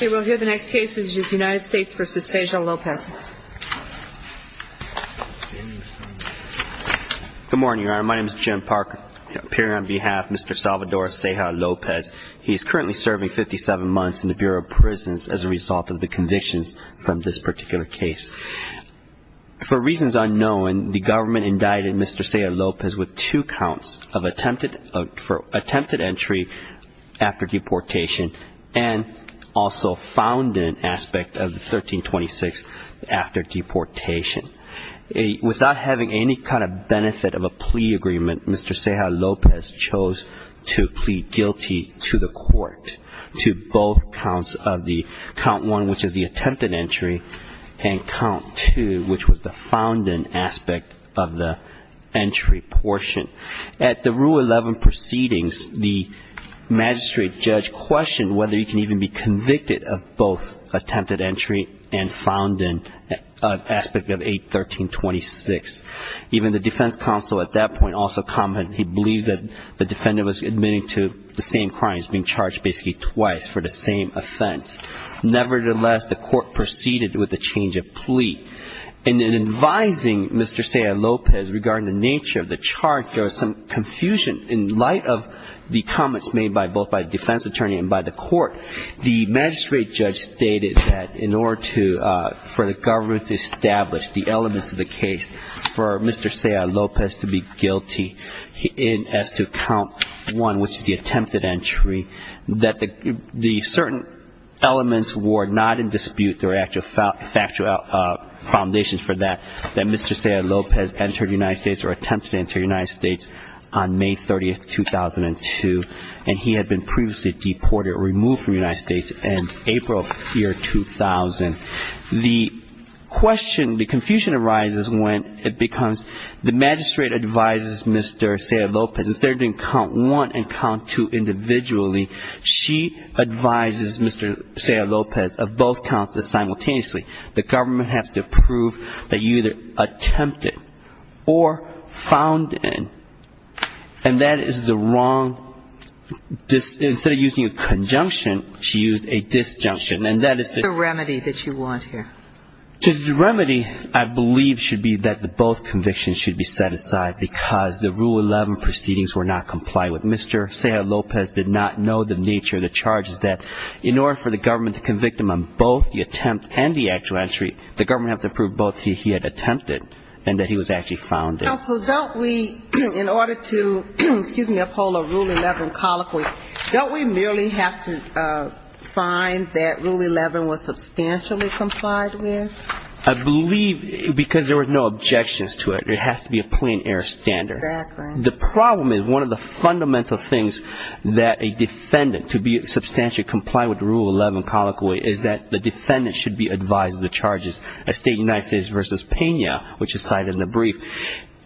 We will hear the next case, which is United States v. Ceja-Lopez. Good morning, Your Honor. My name is Jim Parker. Appearing on behalf of Mr. Salvador Ceja-Lopez, he is currently serving 57 months in the Bureau of Prisons as a result of the convictions from this particular case. For reasons unknown, the government indicted Mr. Ceja-Lopez with two counts of attempted entry after deportation and also found in aspect of the 1326 after deportation. Without having any kind of benefit of a plea agreement, Mr. Ceja-Lopez chose to plead guilty to the court to both counts of the count one, which is the attempted entry, and count two, which was the found in aspect of the entry portion. At the rule 11 proceedings, the magistrate judge questioned whether he can even be convicted of both attempted entry and found in aspect of 81326. Even the defense counsel at that point also commented he believed that the defendant was admitting to the same crimes, being charged basically twice for the same offense. Nevertheless, the court proceeded with the change of plea. And in advising Mr. Ceja-Lopez regarding the nature of the charge, there was some confusion in light of the comments made both by the defense attorney and by the court. The magistrate judge stated that in order for the government to establish the elements of the case for Mr. Ceja-Lopez to be guilty as to count one, which is the attempted entry, that the certain elements were not in dispute. There were actual foundations for that, that Mr. Ceja-Lopez entered the United States or attempted to enter the United States on May 30, 2002, and he had been previously deported or removed from the United States in April of the year 2000. The question, the confusion arises when it becomes the magistrate advises Mr. Ceja-Lopez instead of doing count one and count two individually, she advises Mr. Ceja-Lopez of both counts simultaneously. The government has to prove that you either attempted or found in. And that is the wrong, instead of using a conjunction, she used a disjunction. And that is the remedy that you want here. The remedy, I believe, should be that both convictions should be set aside because the Rule 11 proceedings were not complied with. Mr. Ceja-Lopez did not know the nature of the charges that, in order for the government to convict him on both the attempt and the actual entry, the government has to prove both he had attempted and that he was actually found in. So don't we, in order to, excuse me, uphold a Rule 11 colloquy, don't we merely have to find that Rule 11 was substantially complied with? I believe, because there were no objections to it, it has to be a plain air standard. The problem is one of the fundamental things that a defendant, to be substantially complied with the Rule 11 colloquy, is that the defendant should be advised of the charges, as stated in United States v. Pena, which is cited in the brief.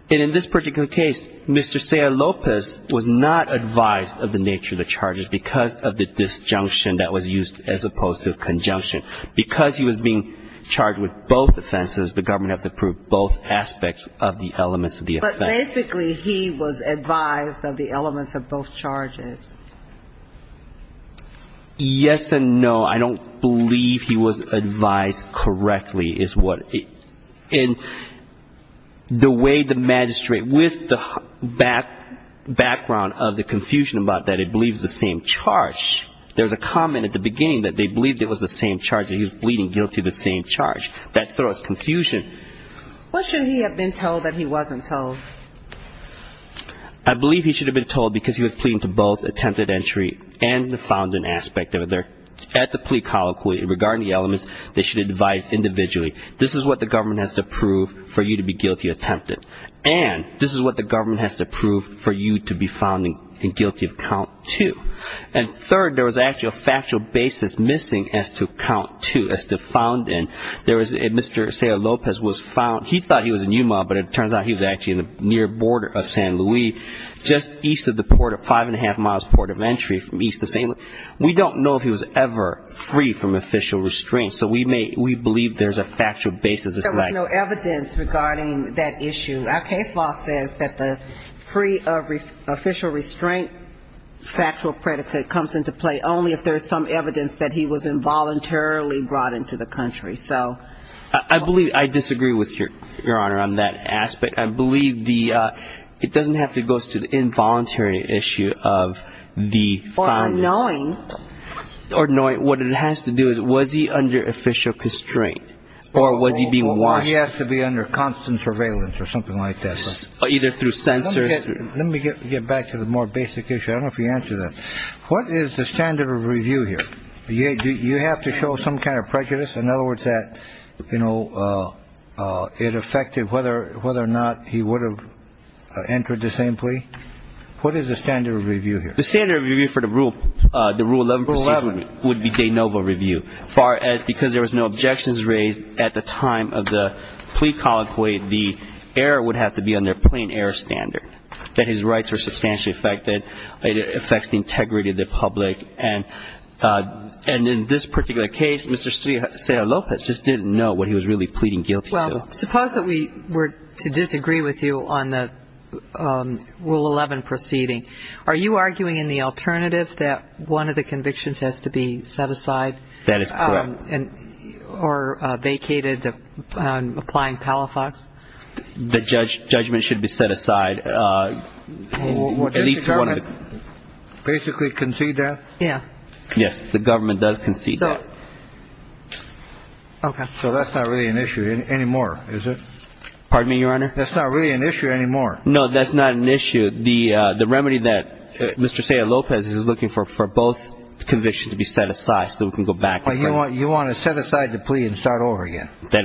And in this particular case, Mr. Ceja-Lopez was not advised of the nature of the charges because of the disjunction that was used as opposed to conjunction. Because he was being charged with both offenses, the government has to prove both aspects of the elements of the offense. But basically he was advised of the elements of both charges. Yes and no. I don't believe he was advised correctly is what the way the magistrate, with the background of the confusion about that it believes the same charge. There was a comment at the beginning that they believed it was the same charge that he was pleading guilty of the same charge. That throws confusion. What should he have been told that he wasn't told? I believe he should have been told because he was pleading to both attempted entry and the found in aspect of it. At the plea colloquy, regarding the elements, they should advise individually. This is what the government has to prove for you to be guilty of attempted. And this is what the government has to prove for you to be found guilty of count two. And third, there was actually a factual basis missing as to count two, as to found in. There was a Mr. Lopez was found. He thought he was in Yuma, but it turns out he was actually in the near border of San Luis, just east of the port of five and a half miles port of entry from east to same. We don't know if he was ever free from official restraint. So we believe there's a factual basis. There was no evidence regarding that issue. Our case law says that the free of official restraint factual predicate comes into play only if there's some evidence that he was involuntarily brought into the country. So I believe I disagree with your your honor on that aspect. I believe the it doesn't have to go to the involuntary issue of the knowing or knowing what it has to do. Was he under official constraint or was he being watched? He has to be under constant surveillance or something like this, either through sensors. Let me get back to the more basic issue. I don't know if you answer that. What is the standard of review here? You have to show some kind of prejudice. In other words, that, you know, it affected whether whether or not he would have entered the same plea. What is the standard of review here? The standard of review for the rule, the rule 11 would be de novo review. Far as because there was no objections raised at the time of the plea colloquy, the error would have to be on their plain air standard that his rights are substantially affected. It affects the integrity of the public. And in this particular case, Mr. Lopez just didn't know what he was really pleading guilty to. Well, suppose that we were to disagree with you on the rule 11 proceeding. Are you arguing in the alternative that one of the convictions has to be set aside? That is correct. And or vacated applying Palafox. The judge judgment should be set aside. At least one of the basically concede that. Yeah. Yes. The government does concede. So that's not really an issue anymore, is it? Pardon me, Your Honor. That's not really an issue anymore. No, that's not an issue. The remedy that Mr. Lopez is looking for for both convictions to be set aside so we can go back. That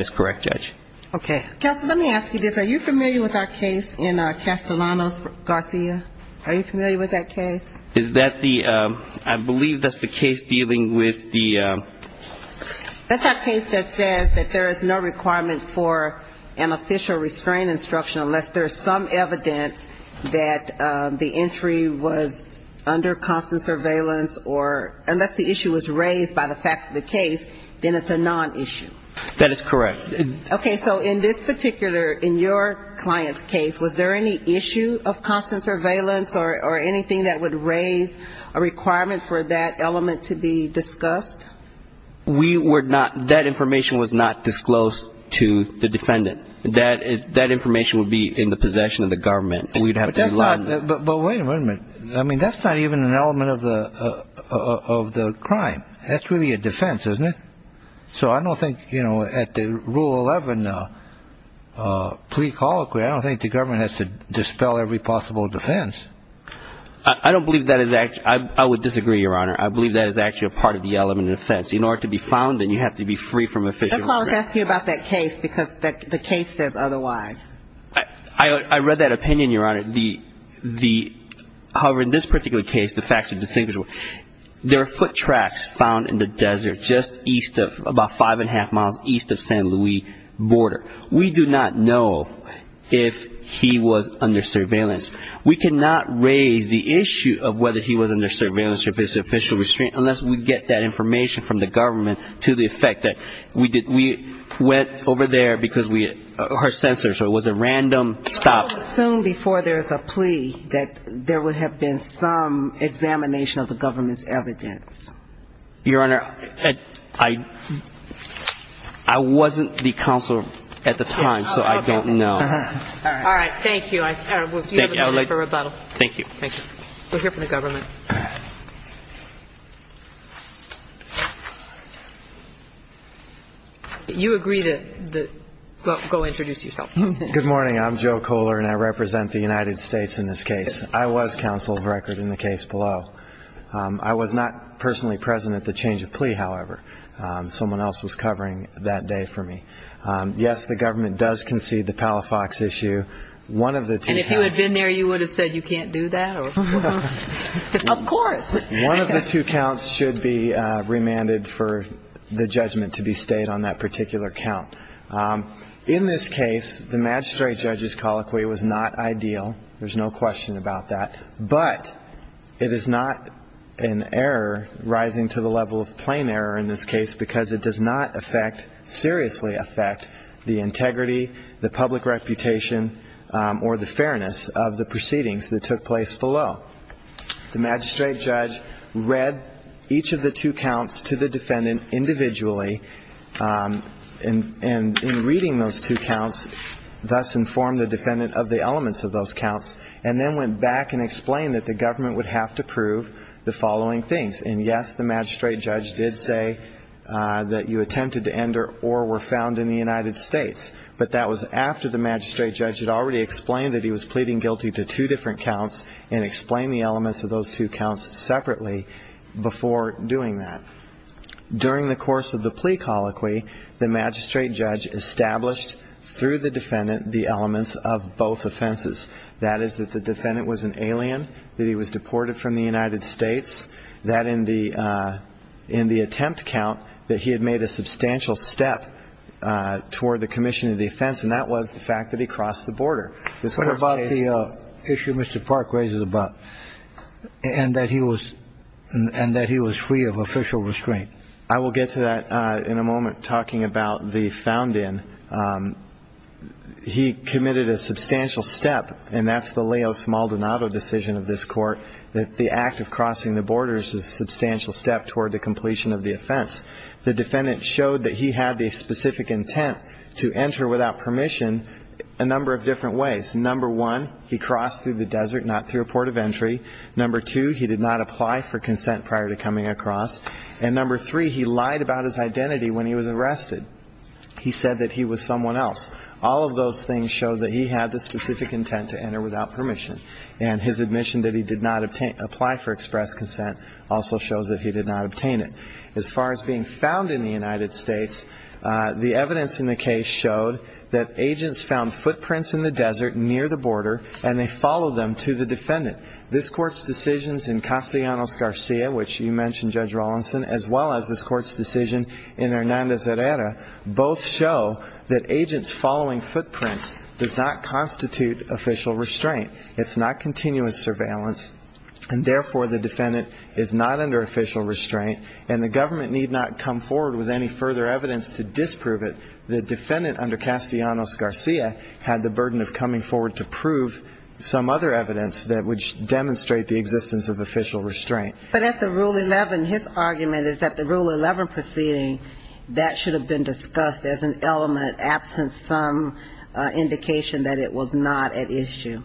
is correct, Judge. Okay. Counsel, let me ask you this. Are you familiar with our case in Castellanos Garcia? Are you familiar with that case? Is that the ‑‑ I believe that's the case dealing with the ‑‑ That's our case that says that there is no requirement for an official restrain instruction unless there's some evidence that the entry was under constant surveillance or unless the issue was raised by the facts of the case, then it's a nonissue. That is correct. Okay. So in this particular, in your client's case, was there any issue of constant surveillance or anything that would raise a requirement for that element to be discussed? We were not ‑‑ that information was not disclosed to the defendant. That information would be in the possession of the government. We would have to ‑‑ But wait a minute. I mean, that's not even an element of the crime. That's really a defense, isn't it? So I don't think, you know, at the Rule 11 plea colloquy, I don't think the government has to dispel every possible defense. I don't believe that is actually ‑‑ I would disagree, Your Honor. I believe that is actually a part of the element of defense. In order to be found, then you have to be free from official restraint. That's why I was asking you about that case, because the case says otherwise. I read that opinion, Your Honor. However, in this particular case, the facts are distinguishable. There are foot tracks found in the desert just east of, about five and a half miles east of San Luis border. We do not know if he was under surveillance. We cannot raise the issue of whether he was under surveillance or if it's official restraint unless we get that information from the government to the effect that we went over there because we ‑‑ or her sensors, or it was a random stop. I would assume before there is a plea that there would have been some examination of the government's evidence. Your Honor, I wasn't the counsel at the time, so I don't know. All right. Thank you. We'll give you a minute for rebuttal. Thank you. Thank you. We're here for the government. You agree to go introduce yourself. Good morning. I'm Joe Kohler, and I represent the United States in this case. I was counsel of record in the case below. I was not personally present at the change of plea, however. Someone else was covering that day for me. Yes, the government does concede the Palafox issue. One of the two counts ‑‑ And if you had been there, you would have said you can't do that. Of course. One of the two counts should be remanded for the judgment to be stayed on that particular count. In this case, the magistrate judge's colloquy was not ideal. There's no question about that. But it is not an error rising to the level of plain error in this case because it does not seriously affect the integrity, the public reputation, or the fairness of the proceedings that took place below. The magistrate judge read each of the two counts to the defendant individually and, in reading those two counts, thus informed the defendant of the elements of those counts and then went back and explained that the government would have to prove the following things. And, yes, the magistrate judge did say that you attempted to enter or were found in the United States, but that was after the magistrate judge had already explained that he was pleading guilty to two different counts and explained the elements of those two counts separately before doing that. During the course of the plea colloquy, the magistrate judge established through the defendant the elements of both offenses. That is, that the defendant was an alien, that he was deported from the United States, that in the attempt count that he had made a substantial step toward the commission of the offense, and that was the fact that he crossed the border. What about the issue Mr. Park raises about and that he was free of official restraint? I will get to that in a moment, talking about the found in. He committed a substantial step, and that's the Leo Smaldonado decision of this Court, that the act of crossing the borders is a substantial step toward the completion of the offense. The defendant showed that he had the specific intent to enter without permission a number of different ways. Number one, he crossed through the desert, not through a port of entry. Number two, he did not apply for consent prior to coming across. And number three, he lied about his identity when he was arrested. He said that he was someone else. All of those things show that he had the specific intent to enter without permission, and his admission that he did not apply for express consent also shows that he did not obtain it. As far as being found in the United States, the evidence in the case showed that agents found footprints in the desert near the border, and they followed them to the defendant. This Court's decisions in Castellanos Garcia, which you mentioned, Judge Rawlinson, as well as this Court's decision in Hernandez Herrera, both show that agents following footprints does not constitute official restraint. It's not continuous surveillance, and therefore the defendant is not under official restraint and the government need not come forward with any further evidence to disprove it. The defendant under Castellanos Garcia had the burden of coming forward to prove some other evidence that would demonstrate the existence of official restraint. But at the Rule 11, his argument is that the Rule 11 proceeding, that should have been discussed as an element absent some indication that it was not at issue.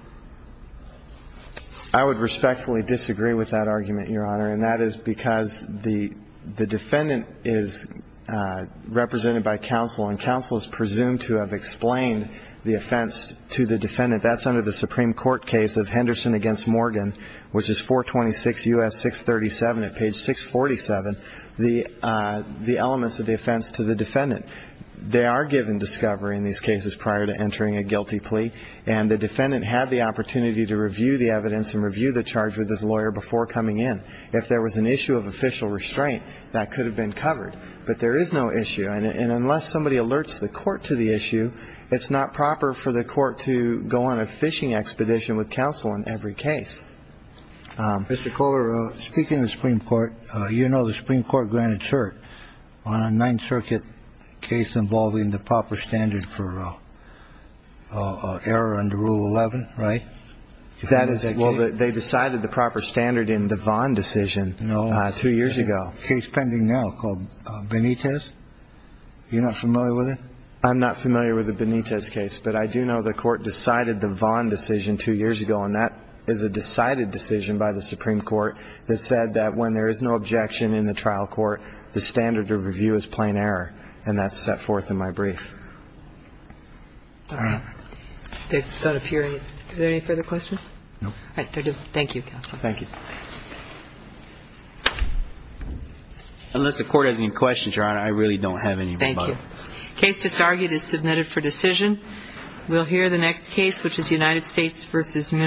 I would respectfully disagree with that argument, Your Honor, and that is because the defendant is represented by counsel and counsel is presumed to have explained the offense to the defendant. That's under the Supreme Court case of Henderson v. Morgan, which is 426 U.S. 637 at page 647, the elements of the offense to the defendant. They are given discovery in these cases prior to entering a guilty plea, and the defendant had the opportunity to review the evidence and review the charge with his lawyer before coming in. If there was an issue of official restraint, that could have been covered. But there is no issue, and unless somebody alerts the court to the issue, it's not proper for the court to go on a fishing expedition with counsel in every case. Mr. Kohler, speaking of the Supreme Court, you know the Supreme Court granted cert on a Ninth Circuit case involving the proper standard for error under Rule 11, right? Well, they decided the proper standard in the Vaughn decision two years ago. No. Case pending now called Benitez. You're not familiar with it? I'm not familiar with the Benitez case, but I do know the court decided the Vaughn decision two years ago, and that is a decided decision by the Supreme Court that said that when there is no objection in the trial court, the standard to review is plain error, and that's set forth in my brief. All right. Is there any further questions? No. All right. Thank you, counsel. Thank you. Unless the court has any questions, Your Honor, I really don't have any. Thank you. The case just argued is submitted for decision. We'll hear the next case, which is United States v. Munoz-Peralta.